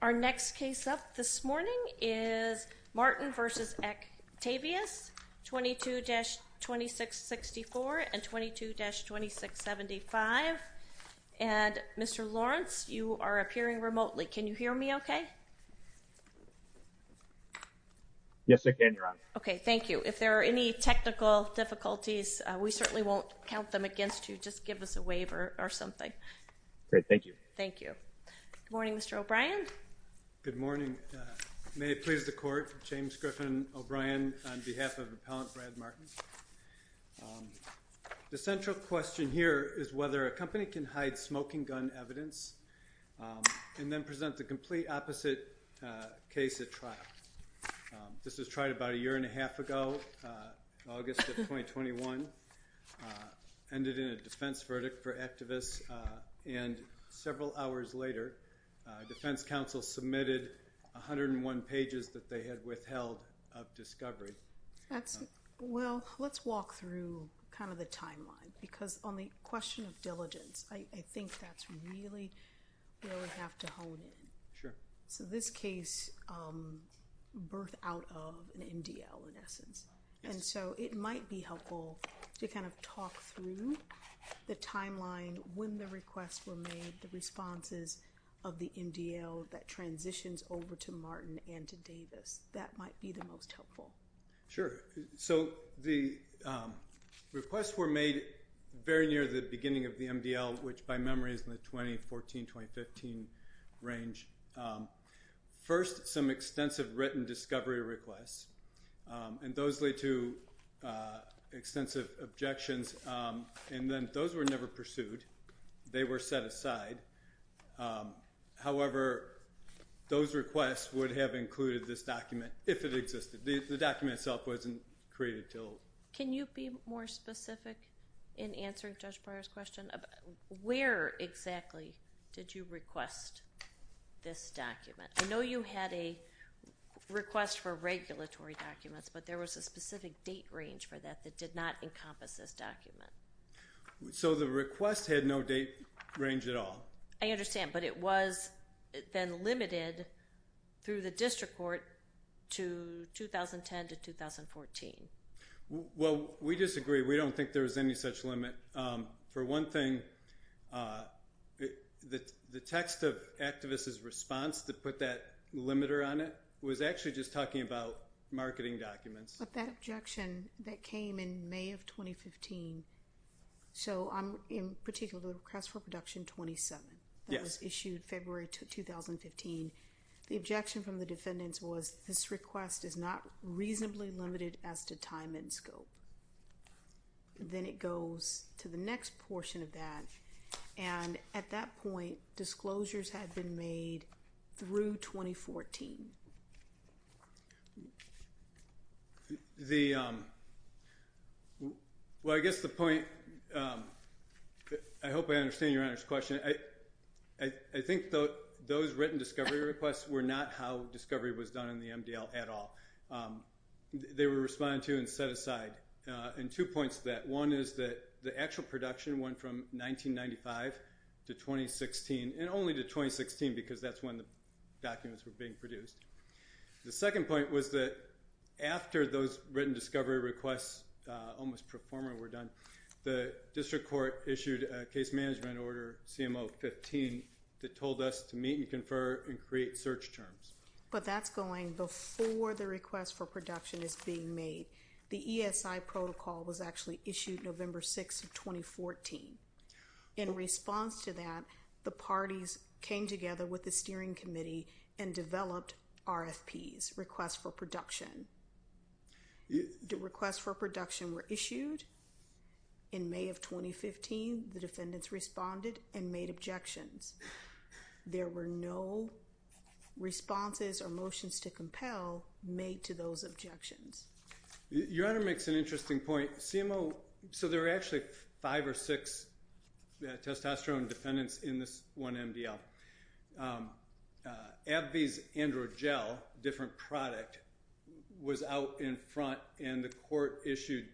Our next case up this morning is Martin v. Actavis, 22-2664 and 22-2675, and Mr. Lawrence, you are appearing remotely. Can you hear me okay? Yes, I can. You're on. Okay, thank you. If there are any technical difficulties, we certainly won't count them against you. Just give us a waiver or something. Great, thank you. Thank you. Good morning, Mr. O'Brien. Good morning. May it please the Court, James Griffin O'Brien on behalf of Appellant Brad Martin. The central question here is whether a company can hide smoking gun evidence and then present the complete opposite case at trial. This was tried about a year and a half ago, August of 2021, ended in a defense verdict for Actavis, and several hours later, defense counsel submitted 101 pages that they had withheld of discovery. Well, let's walk through kind of the timeline, because on the question of diligence, I think that's really where we have to hone in. Sure. So this case birthed out of an MDL, in essence, and so it might be helpful to kind of talk through the timeline when the requests were made, the responses of the MDL that transitions over to Martin and to Davis. That might be the most helpful. Sure. So the requests were made very near the beginning of the MDL, which by memory is in the 2014-2015 range. First, some extensive written discovery requests, and those lead to extensive objections, and then those were never pursued. They were set aside. However, those requests would have included this document if it existed. The document itself wasn't created until— Can you be more specific in answering Judge Breyer's question? Where exactly did you request this document? I know you had a request for regulatory documents, but there was a specific date range for that that did not encompass this document. So the request had no date range at all. I understand, but it was then limited through the district court to 2010 to 2014. Well, we disagree. We don't think there was any such limit. For one thing, the text of Activist's response that put that limiter on it was actually just talking about marketing documents. But that objection that came in May of 2015, so in particular the request for production 27 that was issued February 2015, the objection from the defendants was this request is not reasonably limited as to time and scope. Then it goes to the next portion of that, and at that point, disclosures had been made through 2014. Well, I guess the point—I hope I understand Your Honor's question. I think those written discovery requests were not how discovery was done in the MDL at all. They were responded to and set aside, and two points to that. One is that the actual production went from 1995 to 2016, and only to 2016 because that's when the documents were being produced. The second point was that after those written discovery requests almost pro forma were done, the district court issued a case management order, CMO 15, that told us to meet and confer and create search terms. But that's going before the request for production is being made. The ESI protocol was actually issued November 6 of 2014. In response to that, the parties came together with the steering committee and developed RFPs, requests for production. The requests for production were issued in May of 2015. The defendants responded and made objections. There were no responses or motions to compel made to those objections. Your Honor makes an interesting point. CMO—so there were actually five or six testosterone defendants in this one MDL. AbbVie's Androgel, a different product, was out in front, and the court issued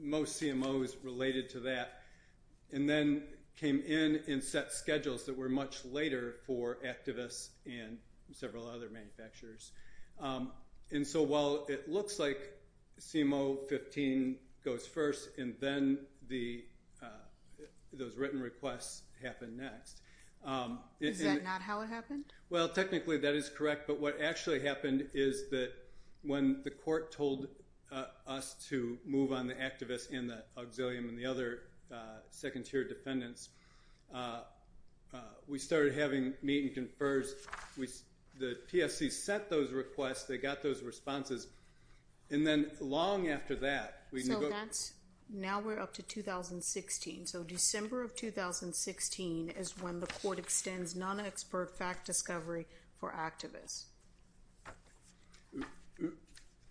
most CMOs related to that, and then came in and set schedules that were much later for activists and several other manufacturers. And so while it looks like CMO 15 goes first, and then those written requests happen next— Is that not how it happened? Well, technically that is correct, but what actually happened is that when the court told us to move on the activists and the auxilium and the other second-tier defendants, we started having meet and confers. The TSC sent those requests, they got those responses, and then long after that, we— So that's—now we're up to 2016. So December of 2016 is when the court extends non-expert fact discovery for activists.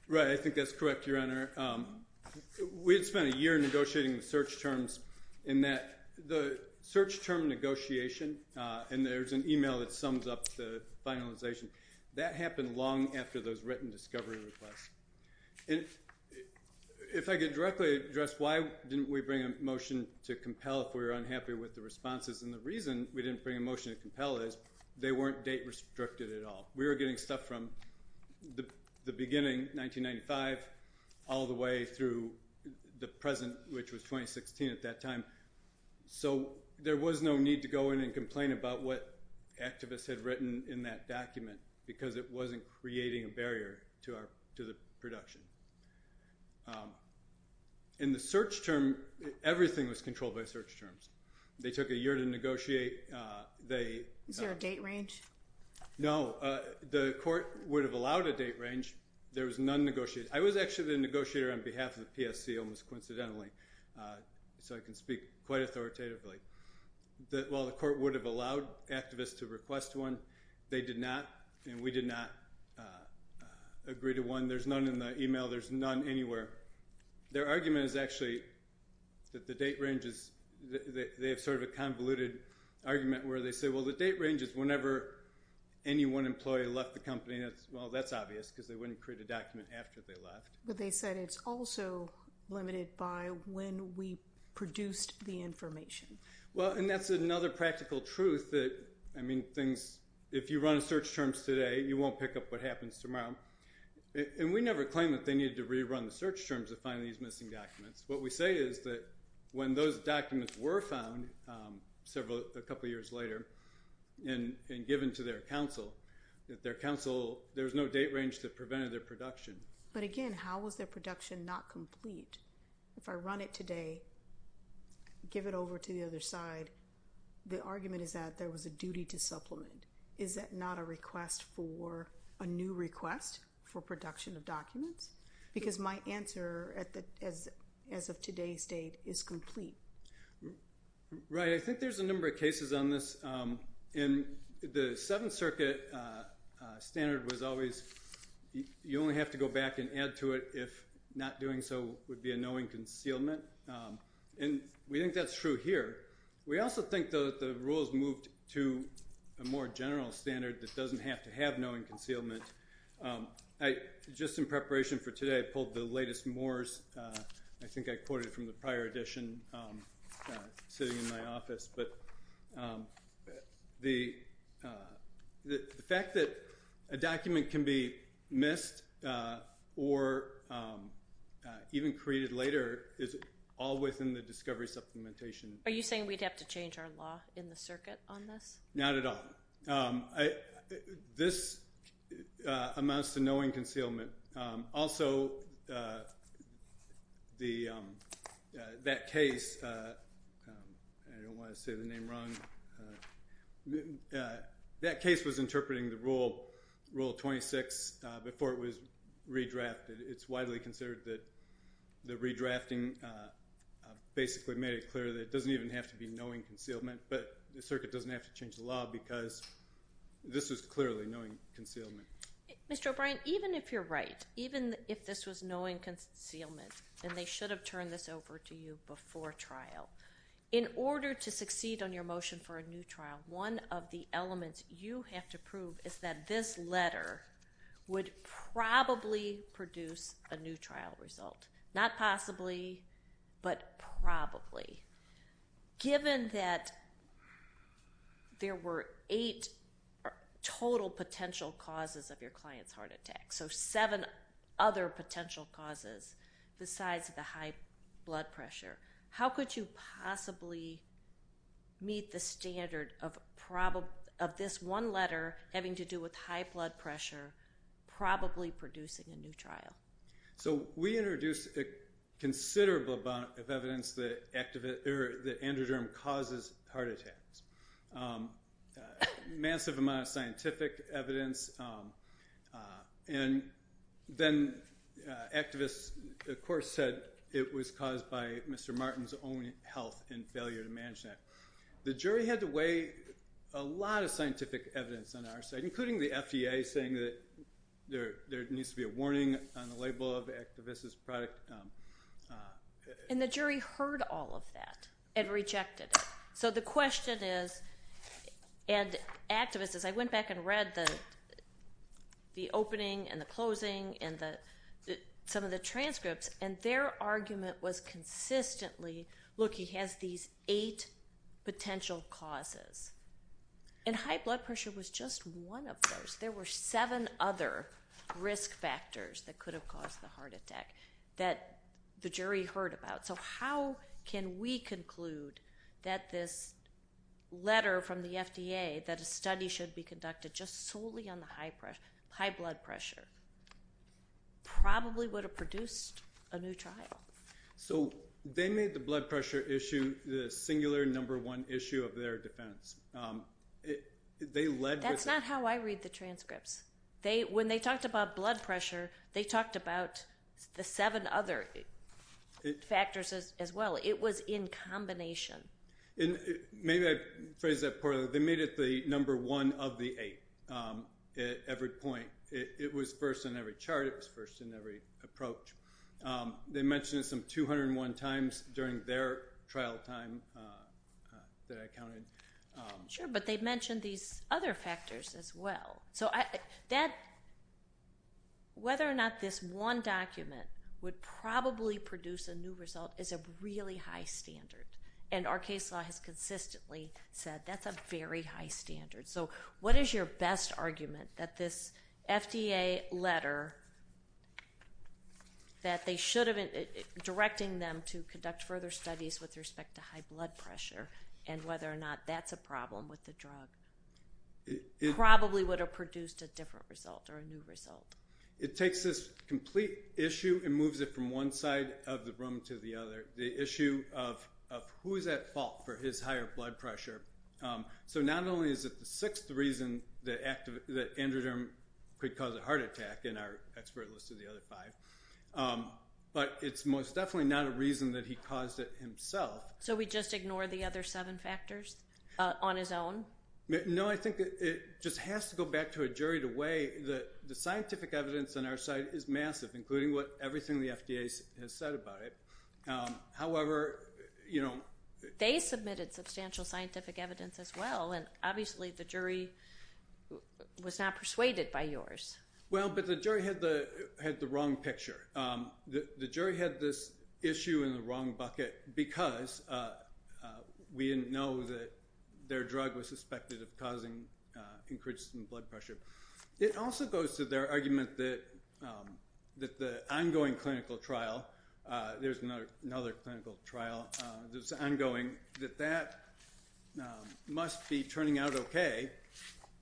Right. I think that's correct, Your Honor. We had spent a year negotiating the search terms in that the search term negotiation—and there's an email that sums up the finalization—that happened long after those written discovery requests. And if I could directly address why didn't we bring a motion to compel if we were unhappy with the responses, and the reason we didn't bring a motion to compel is they weren't date-restricted at all. We were getting stuff from the beginning, 1995, all the way through the present, which was 2016 at that time. So there was no need to go in and complain about what activists had written in that document because it wasn't creating a barrier to our—to the production. In the search term, everything was controlled by search terms. They took a year to negotiate. They— Is there a date range? No. The court would have allowed a date range. There was none negotiated. I was actually the negotiator on behalf of the PSC, almost coincidentally, so I can speak quite authoritatively. Well, the court would have allowed activists to request one. They did not, and we did not agree to one. There's none in the email. There's none anywhere. Their argument is actually that the date range is—they have sort of a convoluted argument where they say, well, the date range is whenever any one employee left the company. Well, that's obvious because they wouldn't create a document after they left. But they said it's also limited by when we produced the information. Well, and that's another practical truth that, I mean, things—if you run a search terms today, you won't pick up what happens tomorrow. And we never claimed that they needed to rerun the search terms to find these missing documents. What we say is that when those documents were found a couple years later and given to their counsel, there was no date range that prevented their production. But again, how was their production not complete? If I run it today, give it over to the other side, the argument is that there was a duty to supplement. Is that not a request for—a new request for production of documents? Because my answer as of today's date is complete. Right. I think there's a number of cases on this. And the Seventh Circuit standard was always you only have to go back and add to it if not doing so would be a knowing concealment. And we think that's true here. We also think that the rules moved to a more general standard that doesn't have to have knowing concealment. Just in preparation for today, I pulled the latest Moore's. I think I quoted from the prior edition sitting in my office. But the fact that a document can be missed or even created later is all within the discovery supplementation. Are you saying we'd have to change our law in the circuit on this? Not at all. This amounts to knowing concealment. Also, that case—I don't want to say the name wrong—that case was interpreting the Rule 26 before it was redrafted. It's widely considered that the redrafting basically made it clear that it doesn't even have to be knowing concealment, but the circuit doesn't have to change the law because this is clearly knowing concealment. Mr. O'Brien, even if you're right, even if this was knowing concealment, then they should have turned this over to you before trial. In order to succeed on your motion for a new trial, one of the elements you have to prove is that this letter would probably produce a new trial result. Not possibly, but probably. Given that there were eight total potential causes of your client's heart attack, so seven other potential causes besides the high blood pressure, how could you possibly meet the standard of this one letter having to do with high blood pressure probably producing a new trial? We introduced a considerable amount of evidence that androderm causes heart attacks, a massive amount of scientific evidence, and then activists of course said it was caused by Mr. Martin's own health and failure to manage that. The jury had to weigh a lot of scientific evidence on our side, including the FDA saying that there needs to be a warning on the label of activist's product. And the jury heard all of that and rejected it. So the question is, and activists, as I went back and read the opening and the closing and some of the transcripts, and their argument was consistently, look, he has these eight potential causes. And high blood pressure was just one of those. There were seven other risk factors that could have caused the heart attack that the jury heard about. So how can we conclude that this letter from the FDA that a study should be conducted just solely on the high blood pressure probably would have produced a new trial? So they made the blood pressure issue the singular number one issue of their defense. That's not how I read the transcripts. When they talked about blood pressure, they talked about the seven other factors as well. It was in combination. Maybe I phrased that poorly. They made it the number one of the eight at every point. It was first in every chart. It was first in every approach. They mentioned it some 201 times during their trial time that I counted. Sure, but they mentioned these other factors as well. So whether or not this one document would probably produce a new result is a really high standard. And our case law has consistently said that's a very high standard. So what is your best argument that this FDA letter that they should have been directing them to conduct further studies with respect to high blood pressure and whether or not that's a problem with the drug probably would have produced a different result or a new result? It takes this complete issue and moves it from one side of the room to the other. The issue of who is at fault for his higher blood pressure. So not only is it the sixth reason that androderm could cause a heart attack in our expert list of the other five, but it's most definitely not a reason that he caused it himself. So we just ignore the other seven factors on his own? No, I think it just has to go back to a juried way. The scientific evidence on our side is massive, including everything the FDA has said about it. They submitted substantial scientific evidence as well, and obviously the jury was not persuaded by yours. Well, but the jury had the wrong picture. The jury had this issue in the wrong bucket because we didn't know that their drug was suspected of causing increased blood pressure. It also goes to their argument that the ongoing clinical trial, there's another clinical trial that's ongoing, that that must be turning out okay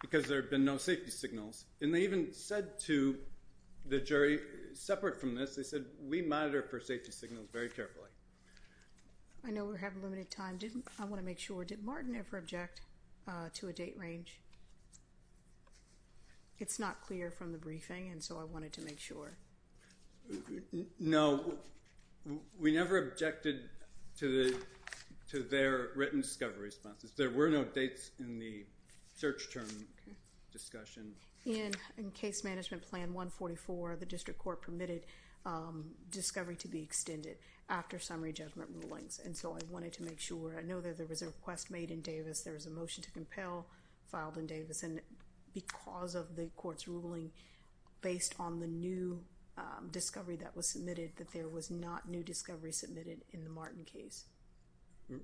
because there have been no safety signals. And they even said to the jury, separate from this, they said, we monitor for safety signals very carefully. I know we have limited time. I want to make sure, did Martin ever object to a date range? It's not clear from the briefing, and so I wanted to make sure. No, we never objected to their written discovery responses. There were no dates in the search term discussion. In case management plan 144, the district court permitted discovery to be extended after summary judgment rulings. And so I wanted to make sure. I know that there was a request made in Davis. There was a motion to compel filed in Davis. And because of the court's ruling, based on the new discovery that was submitted, that there was not new discovery submitted in the Martin case.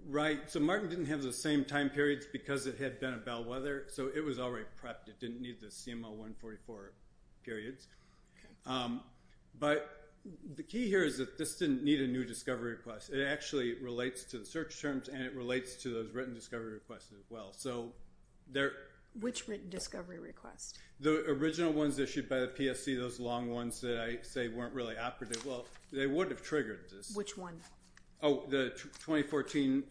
Right. So Martin didn't have the same time periods because it had been a bellwether, so it was already prepped. It didn't need the CMO 144 periods. But the key here is that this didn't need a new discovery request. It actually relates to the search terms, and it relates to those written discovery requests as well. Which written discovery request? The original ones issued by the PSC, those long ones that I say weren't really operative. Well, they would have triggered this. Which one? Oh, the 2014.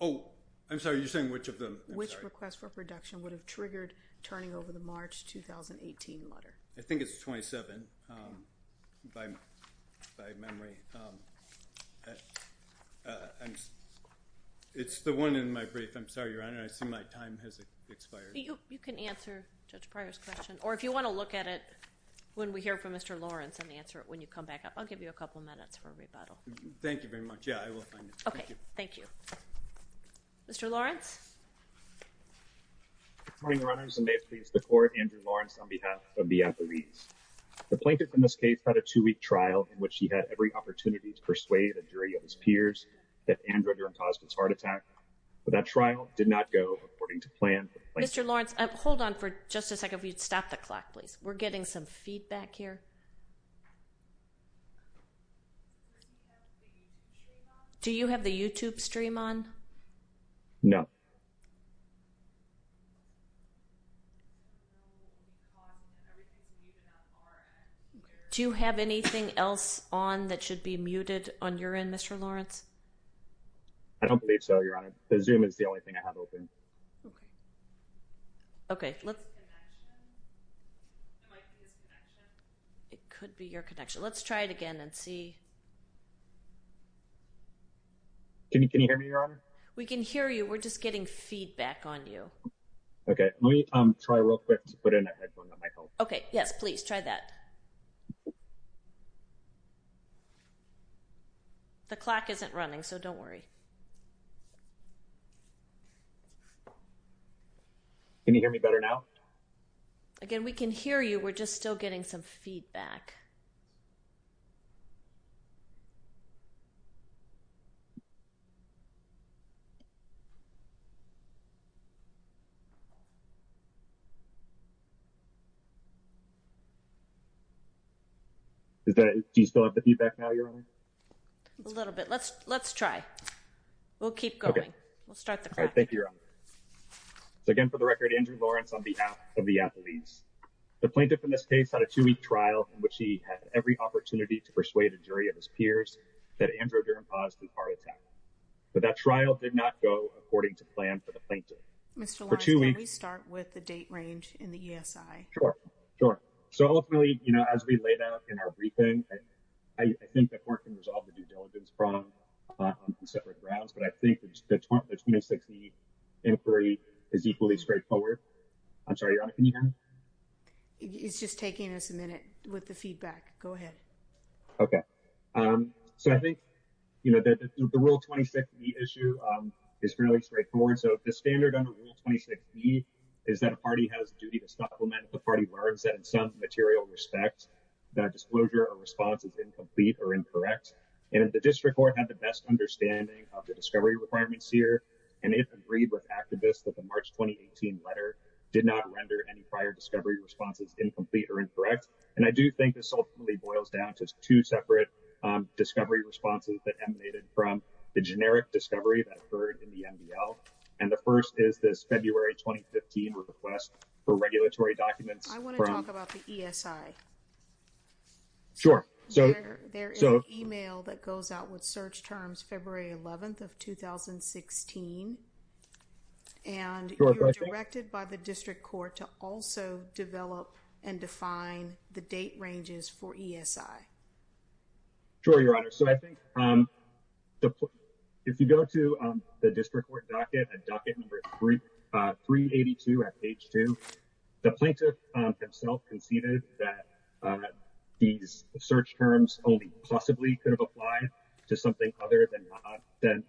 Oh, I'm sorry. You're saying which of them? Which request for production would have triggered turning over the March 2018 letter? I think it's 27 by memory. It's the one in my brief. I'm sorry, Your Honor. I assume my time has expired. You can answer Judge Pryor's question, or if you want to look at it when we hear from Mr. Lawrence and answer it when you come back up. I'll give you a couple of minutes for rebuttal. Thank you very much. Yeah, I will find it. Okay. Thank you. Mr. Lawrence? Good morning, Your Honor. May it please the Court, Andrew Lawrence on behalf of the athletes. The plaintiff in this case had a two-week trial in which he had every opportunity to persuade a jury of his peers that Andrew had caused his heart attack. But that trial did not go according to plan. Mr. Lawrence, hold on for just a second. If you'd stop the clock, please. We're getting some feedback here. Do you have the YouTube stream on? No. Do you have anything else on that should be muted on your end, Mr. Lawrence? I don't believe so, Your Honor. The Zoom is the only thing I have open. Okay. Okay. It could be your connection. Let's try it again and see. Can you hear me, Your Honor? We can hear you. We're just getting feedback on you. Okay. Let me try real quick to put in a headphone that might help. Okay. Yes, please try that. The clock isn't running, so don't worry. Can you hear me better now? Again, we can hear you. We're just still getting some feedback. Do you still have the feedback now, Your Honor? A little bit. Let's try. We'll keep going. We'll start the clock. All right. Thank you, Your Honor. Again, for the record, Andrew Lawrence, on behalf of the athletes, the plaintiff in this case had a two-week trial in which he had every opportunity to persuade a jury of his peers that Andrew Durden Paz was part of the attack. But that trial did not go according to plan for the plaintiff. Mr. Lawrence, can we start with the date range in the ESI? Sure. So ultimately, you know, as we laid out in our briefing, I think the court can resolve the due diligence problem on separate grounds. But I think the 2060 inquiry is equally straightforward. I'm sorry, Your Honor, can you hear me? It's just taking us a minute with the feedback. Go ahead. Okay. So I think, you know, the rule 2060 issue is fairly straightforward. So the standard under rule 2060 is that a party has a duty to supplement the party words that in some material respect, that disclosure or response is incomplete or incorrect. And the district court had the best understanding of the discovery requirements here. And it agreed with activists that the March, 2018 letter did not render any prior discovery responses, incomplete or incorrect. And I do think this ultimately boils down to two separate discovery responses that emanated from the generic discovery that occurred in the MDL. And the first is this February, 2015 request for regulatory documents. I want to talk about the ESI. Sure. So there is an email that goes out with search terms, February 11th of 2016. And directed by the district court to also develop and define the date ranges for ESI. Sure. Your Honor. So I think if you go to the district court docket and docket number 382 at page two, the plaintiff himself conceded that these search terms only possibly could have applied to something other than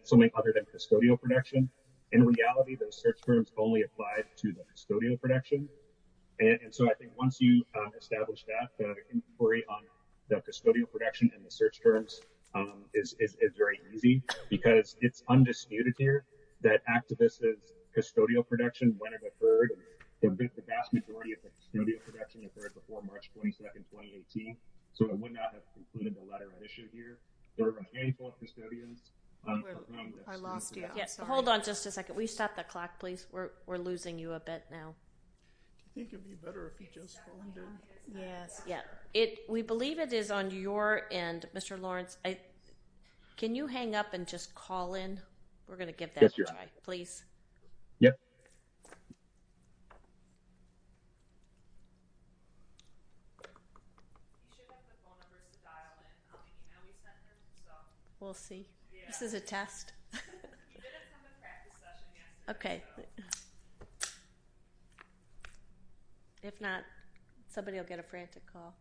custodial protection. In reality, those search terms only applied to the custodial protection. And so I think once you establish that inquiry on the custodial protection and the search terms is very easy because it's undisputed here that activists' custodial protection, when it occurred, the vast majority of the custodial protection occurred before March 22nd, 2018. So it would not have included the letter of issue here. There are any false custodians. I lost you. Hold on just a second. Will you stop the clock, please? We're losing you a bit now. I think it'd be better if you just. Yes. Yeah. We believe it is on your end, Mr. Lawrence. Can you hang up and just call in? We're going to get that. Please. Yeah. We'll see. This is a test. Okay. If not, somebody will get a frantic call.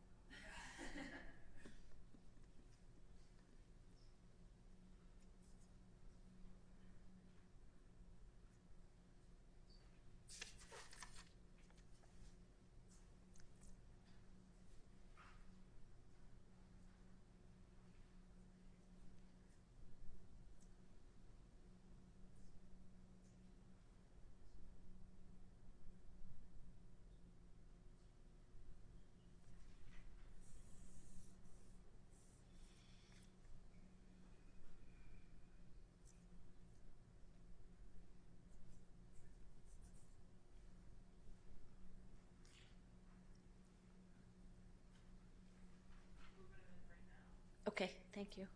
Okay. Okay. Thank you.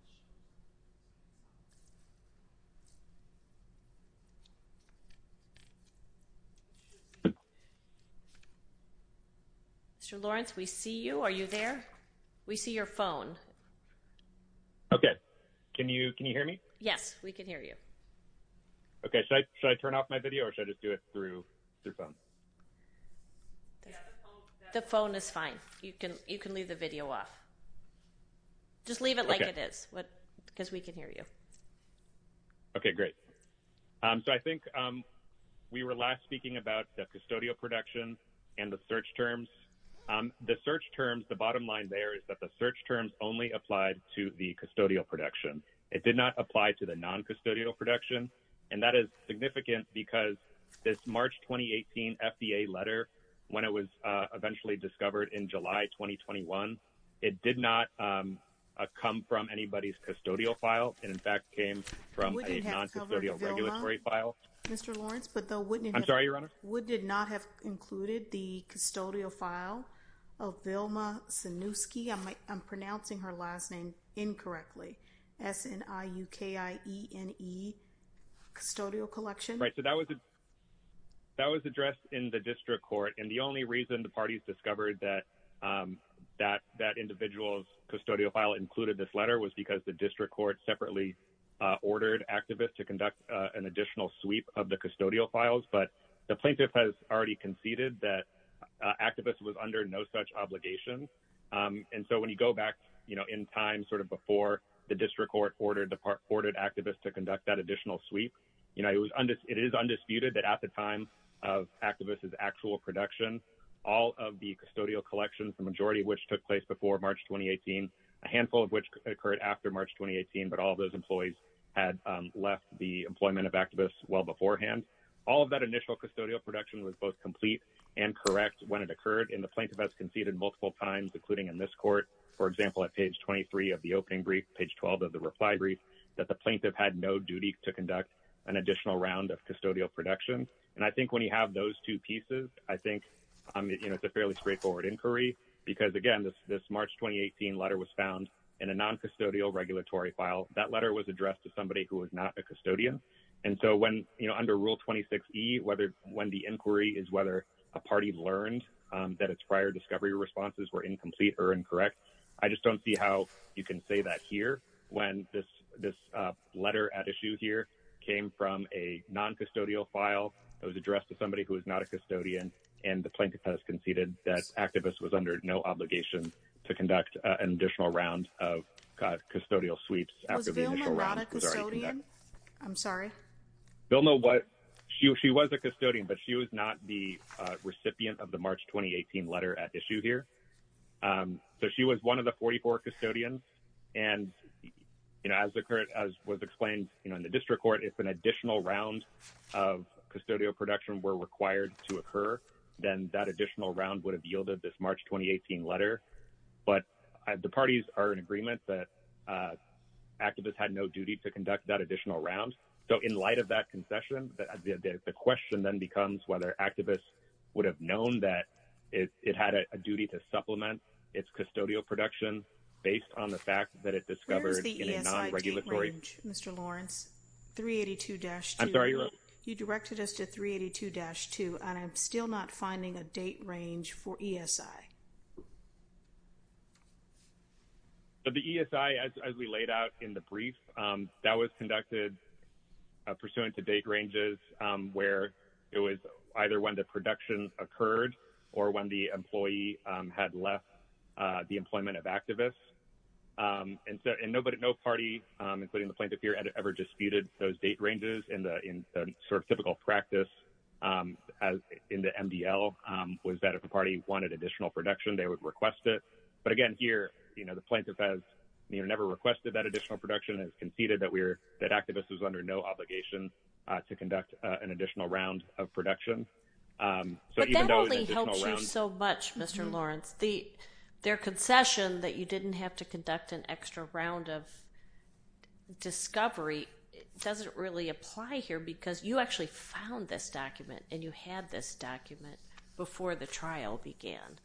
Okay. Mr. Lawrence, we see you. Are you there? We see your phone. Okay. Can you, can you hear me? Yes, we can hear you. Okay. Should I turn off my video or should I just do it through your phone? The phone is fine. You can, you can leave the video off. Just leave it like it is. What? Because we can hear you. Okay, great. So I think. We were last speaking about the custodial production. And the search terms. The search terms. The bottom line there is that the search terms only applied to the custodial production. It did not apply to the non custodial production. And that is significant because this March, 2018 FDA letter. When it was eventually discovered in July, 2021. It did not come from anybody's custodial file. And in fact, came from. Mr. Lawrence, but though. I'm sorry, your honor. Would did not have included the custodial file. Of Vilma. I'm pronouncing her last name. Incorrectly. S N I U K I E N E. Custodial collection. That was addressed in the district court. And the only reason the parties discovered that. That that individual's custodial file included this letter was because the district court separately. Ordered activists to conduct an additional sweep of the custodial files, but the plaintiff has already conceded that. Activists was under no such obligation. And so when you go back, you know, in time, sort of before. The district court ordered the part ported activists to conduct that additional sweep. And so, you know, it was under it is undisputed that at the time. Of activists is actual production. All of the custodial collections, the majority of which took place before March, 2018. A handful of which occurred after March, 2018, but all of those employees. Had left the employment of activists well beforehand. All of that initial custodial production was both complete. And correct when it occurred in the plaintiff has conceded multiple times, including in this court. That the plaintiff had no duty to conduct an additional round of custodial production. And I think when you have those two pieces, I think. I mean, you know, it's a fairly straightforward inquiry because again, this, this March, 2018 letter was found. In a non-custodial regulatory file. That letter was addressed to somebody who was not a custodian. And so when, you know, under rule 26 E, whether, when the inquiry is, I don't see how you can say that here when this, this letter at issue here came from a non-custodial file. It was addressed to somebody who was not a custodian. And the plaintiff has conceded that activist was under no obligation. To conduct an additional round of custodial sweeps. I'm sorry. They'll know what. I'm sorry. She was a custodian, but she was not the recipient of the March, 2018 letter at issue here. So she was one of the 44 custodians. And. You know, as the current, as was explained, you know, in the district court, it's an additional round. Of custodial production were required to occur. Then that additional round would have yielded this March, 2018 letter. But the parties are in agreement that. The plaintiff was under no obligation to conduct that additional round. So in light of that concession, the question then becomes whether activists would have known that. It's it had a duty to supplement. It's custodial production. Based on the fact that it discovered. Mr. Lawrence. 382 dash. I'm sorry. You directed us to 382 dash two. I'm sorry. I'm sorry. I'm still not finding a date range for ESI. But the ESI, as we laid out in the brief. That was conducted. Pursuant to date ranges. Where it was either when the production occurred or when the employee had left the employment of activists. And so, and nobody, no party. Including the plaintiff here ever disputed those date ranges in the, in sort of typical practice. As in the MDL was that if the party wanted additional production, they would request it. But again, here, you know, the plaintiff has. You never requested that additional production has conceded that we're that activists was under no obligation. To conduct an additional round of production. So that only helps you so much, Mr. Lawrence, the, their concession that you didn't have to conduct an extra round of. Discovery. It doesn't really apply here because you actually found this document and you had this document before the trial began.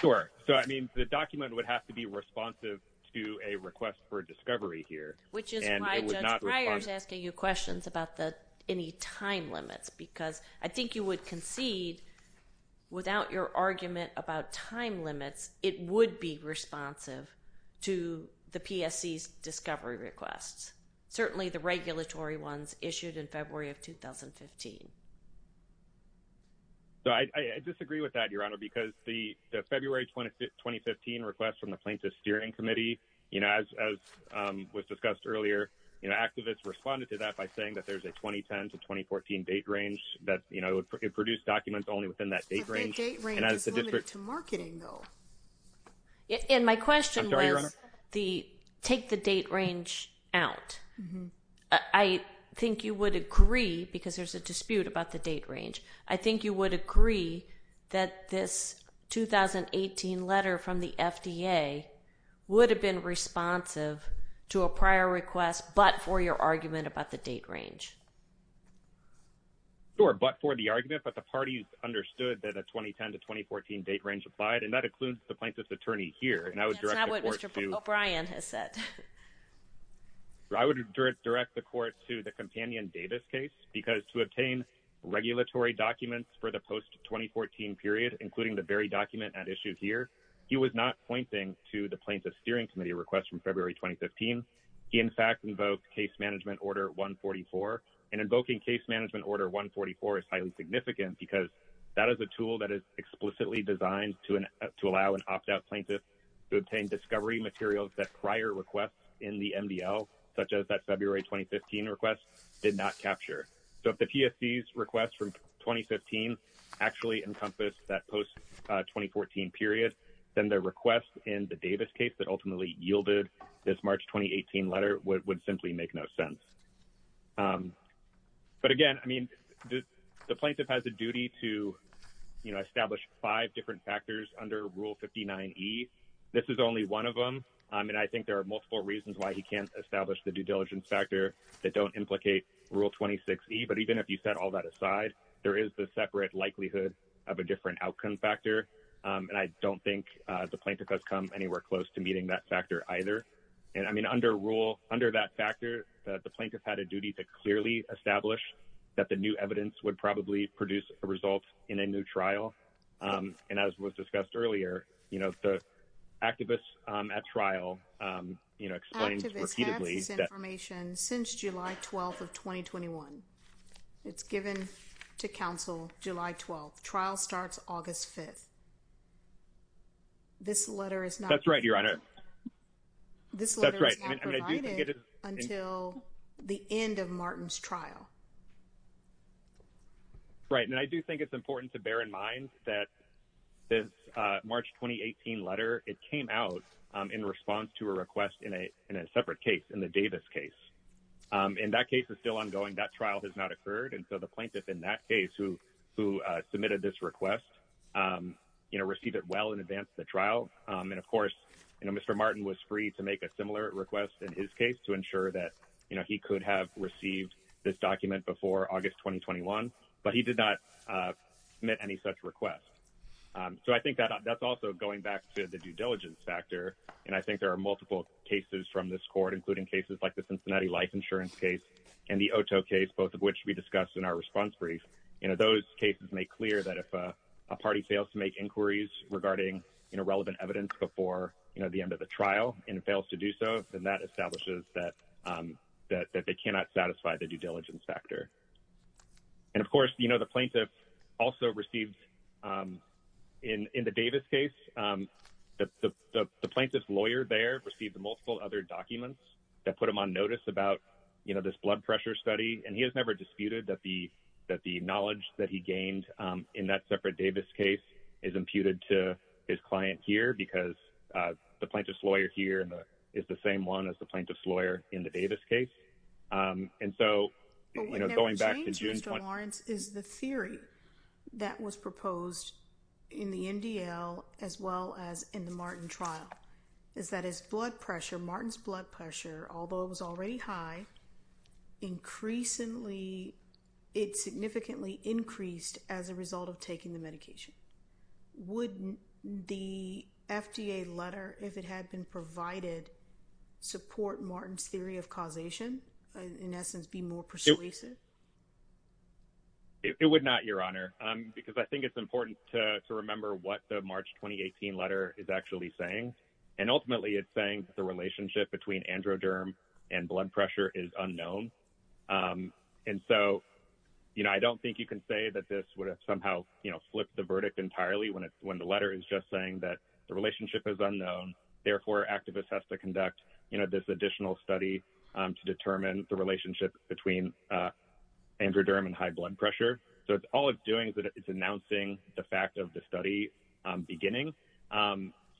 Sure. So, I mean, the document would have to be responsive. To a request for discovery here, which is. Asking you questions about the, any time limits, because I think you would concede. Without your argument about time limits, it would be responsive to the PSC discovery requests. Certainly the regulatory ones issued in February of 2015. So I disagree with that, your honor, because the February 20, 2015 requests from the plaintiff steering committee, you know, as, as was discussed earlier, you know, activists responded to that by saying that there's a 2010 to 2014 date range that, you know, it produced documents only within that date range. And as a district to marketing though. And my question was the take the date range out. I think you would agree because there's a dispute about the date range. I think you would agree that this 2018 letter from the FDA. Would have been responsive to a prior request, but for your argument about the date range. Sure. But for the argument, but the parties understood that a 2010 to 2014 date range applied, and that includes the plaintiff's attorney here. And I would direct. Brian has said. I would direct the court to the companion Davis case because to obtain regulatory documents for the post 2014 period, including the very document at issue here, he was not pointing to the plaintiff's steering committee requests from February, 2015. He, in fact, invoked case management order one 44. And invoking case management order one 44 is highly significant because that is a tool that is explicitly designed to, to allow an opt out plaintiff to obtain discovery materials that prior requests in the MDL, such as that February, 2015 requests did not capture. So if the PSDs requests from 2015 actually encompass that post 2014 period, then their requests in the Davis case that ultimately yielded this March, 2018 letter would, would simply make no sense. But again, I mean, the plaintiff has a duty to, you know, establish five different factors under rule 59 E this is only one of them. And I think there are multiple reasons why he can't establish the due diligence factor that don't implicate rule 26 E. But even if you set all that aside, there is the separate likelihood of a different outcome factor. And I don't think the plaintiff has come anywhere close to meeting that factor either. And I mean, under rule under that factor, the plaintiff had a duty to clearly establish that the new evidence would probably produce a result in a new trial. And as was discussed earlier, you know, the activists at trial, you know, since July 12th of 2021, it's given to council July 12th trial starts August 5th. This letter is not, that's right. Your honor. Until the end of Martin's trial. Right. And I do think it's important to bear in mind that this March, 2018 letter, it came out in response to a request in a, in a separate case in the Davis case. And that case is still ongoing. That trial has not occurred. And so the plaintiff in that case who, who submitted this request, you know, received it well in advance of the trial. And of course, you know, Mr. Martin was free to make a similar request in his case to ensure that, you know, he could have received this document before August, 2021, but he did not submit any such requests. So I think that, that's also going back to the due diligence factor. And I think there are multiple cases from this court, including cases like the Cincinnati life insurance case and the OTO case, both of which we discussed in our response brief, you know, those cases make clear that if a party fails to make inquiries regarding, you know, relevant evidence before, you know, the end of the trial and it fails to do so, then that establishes that, that, that they cannot satisfy the due diligence factor. And of course, you know, the plaintiff also received in, in the Davis case, the plaintiff's lawyer there received the multiple other documents that put him on notice about, you know, this blood pressure study. And he has never disputed that the, that the knowledge that he gained in that separate Davis case is imputed to his client here because the plaintiff's lawyer here is the same one as the plaintiff's lawyer in the Davis case. And so, you know, going back to June is the theory that was proposed in the NDL as well as in the Martin trial is that his blood pressure, Martin's blood pressure, although it was already high, increasingly, it significantly increased as a result of taking the medication. Wouldn't the FDA letter, if it had been provided support Martin's theory of causation in essence, be more persuasive? It would not your honor, because I think it's important to remember what the March, 2018 letter is actually saying. And ultimately it's saying that the relationship between androderm and blood pressure is unknown. And so, you know, I don't think you can say that this would have somehow flipped the verdict entirely when it's, when the letter is just saying that the relationship is unknown, therefore activists has to conduct, you know, this additional study to determine the relationship between androderm and high blood pressure. So it's all it's doing is that it's announcing the fact of the study beginning.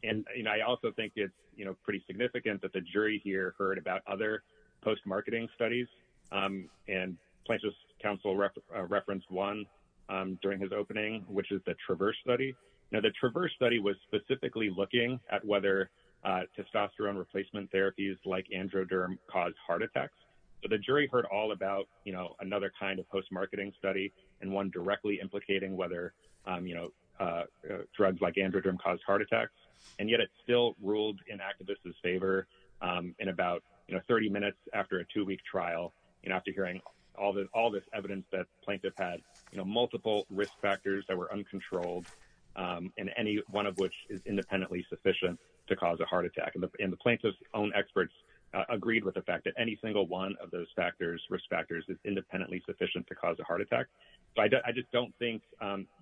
And, you know, I also think it's, you know, pretty significant that the jury here heard about other post-marketing studies and plaintiff's counsel referenced one during his opening, which is the Traverse study. Now, the Traverse study was specifically looking at whether testosterone replacement therapies like androderm cause heart attacks. So the jury heard all about, you know, another kind of post-marketing study and one directly implicating whether, you know, drugs like androderm caused heart attacks. And yet it's still ruled in activists' favor in about, you know, 30 minutes after a two week trial, you know, after hearing all this evidence that plaintiff had, you know, multiple risk factors that were uncontrolled and any one of which is independently sufficient to cause a heart attack. And the plaintiff's own experts agreed with the fact that any single one of those factors, risk factors is independently sufficient to cause a heart attack. So I just don't think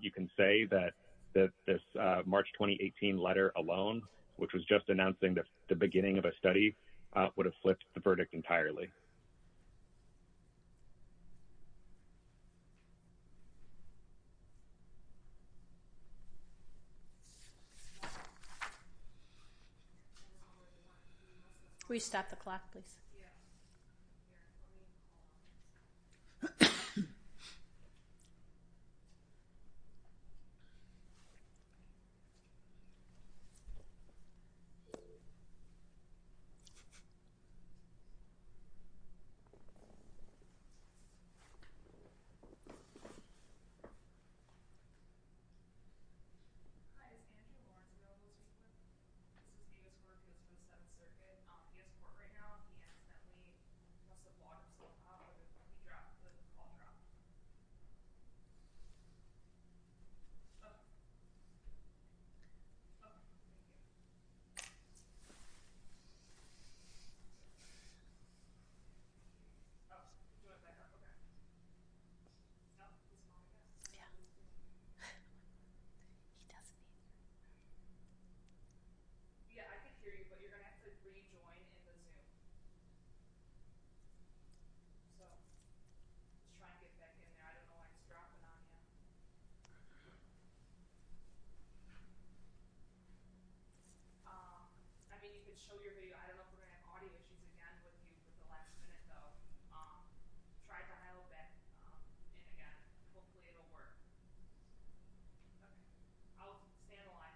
you can say that, that this March, 2018 letter alone, which was just announcing the beginning of a study would have flipped the verdict entirely. Can we stop the clock, please? Okay. Okay. Yeah. Okay. Um, I mean, you can show your video. I don't know if we're going to have audio. Um, try to dial back. Um, and again, hopefully it'll work. I'll analyze. Okay.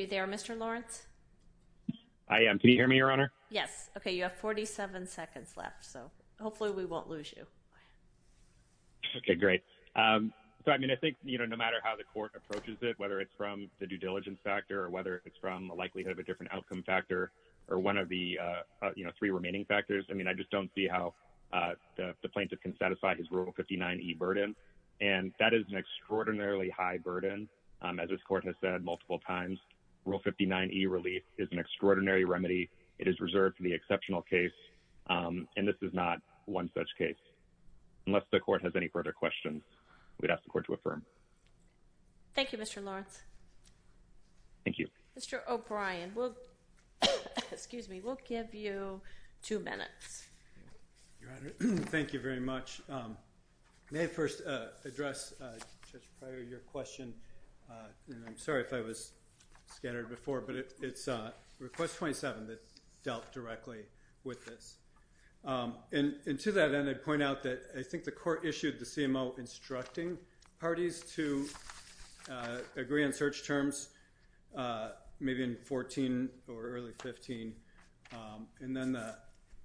Are you there? Mr. Lawrence? I am. Can you hear me, your honor? Yes. Okay. You have 47 seconds left, so hopefully we won't lose you. Okay, great. Um, so, I mean, I think, you know, no matter how the court approaches it, whether it's from the due diligence factor or whether it's from a likelihood of a different outcome factor or one of the, uh, you know, three remaining factors. I mean, I just don't see how, uh, the plaintiff can satisfy his rule 59 E burden. And that is an extraordinarily high burden. Um, as this court has said multiple times rule 59 E relief is an extraordinary remedy. It is reserved for the exceptional case. Um, and this is not one such case unless the court has any further questions. We'd ask the court to affirm. Thank you, Mr. Lawrence. Thank you, Mr. O'Brien. Well, excuse me, we'll give you two minutes. Your honor. Thank you very much. Um, may I first, uh, address, uh, just prior to your question. Uh, and I'm sorry if I was scattered before, but it's a request 27 that dealt directly with this. Um, and to that end, I'd point out that I think the court issued the CMO instructing parties to, uh, agree on search terms, uh, maybe in 14 or early 15. Um, and then, uh,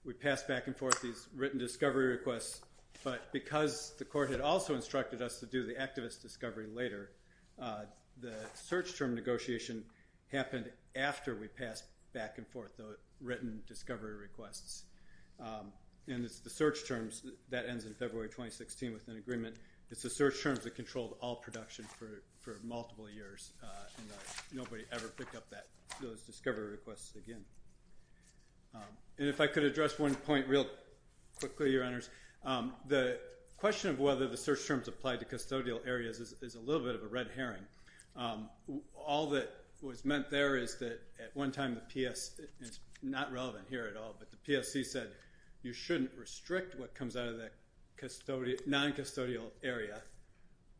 we passed back and forth, these written discovery requests, but because the court had also instructed us to do the activist discovery later, uh, the search term negotiation happened after we passed back and forth the written discovery requests. Um, and it's the search terms that ends in February, 2016 with an agreement. It's a search terms that controlled all production for, for multiple years. Nobody ever picked up that discovery requests again. Um, and if I could address one point real quickly, your honors, um, the question of whether the search terms applied to custodial areas is a little bit of a red Herring. Um, all that was meant there is that at one time the PS is not relevant here at all, but the PSC said, you shouldn't restrict what comes out of that custodial non custodial area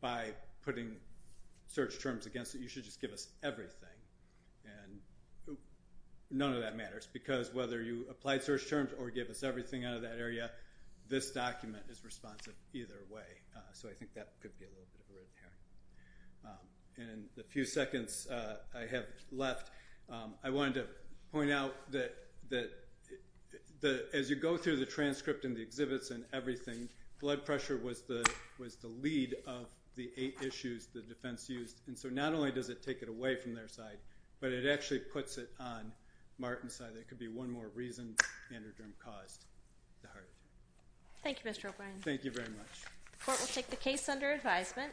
by putting search terms against it. You should just give us everything. And none of that matters because whether you applied search terms or give us everything out of that area, this document is responsive either way. Uh, so I think that could be a little bit of a red Herring. Um, and the few seconds, uh, I have left. Um, I wanted to point out that, that the, as you go through the transcript and the exhibits and everything, blood pressure was the, was the lead of the eight issues, the defense used. And so not only does it take it away from their side, but it actually puts it on Martin's side. That could be one more reason Manderderm caused the heart attack. Thank you, Mr. O'Brien. Thank you very much. The court will take the case under advisement.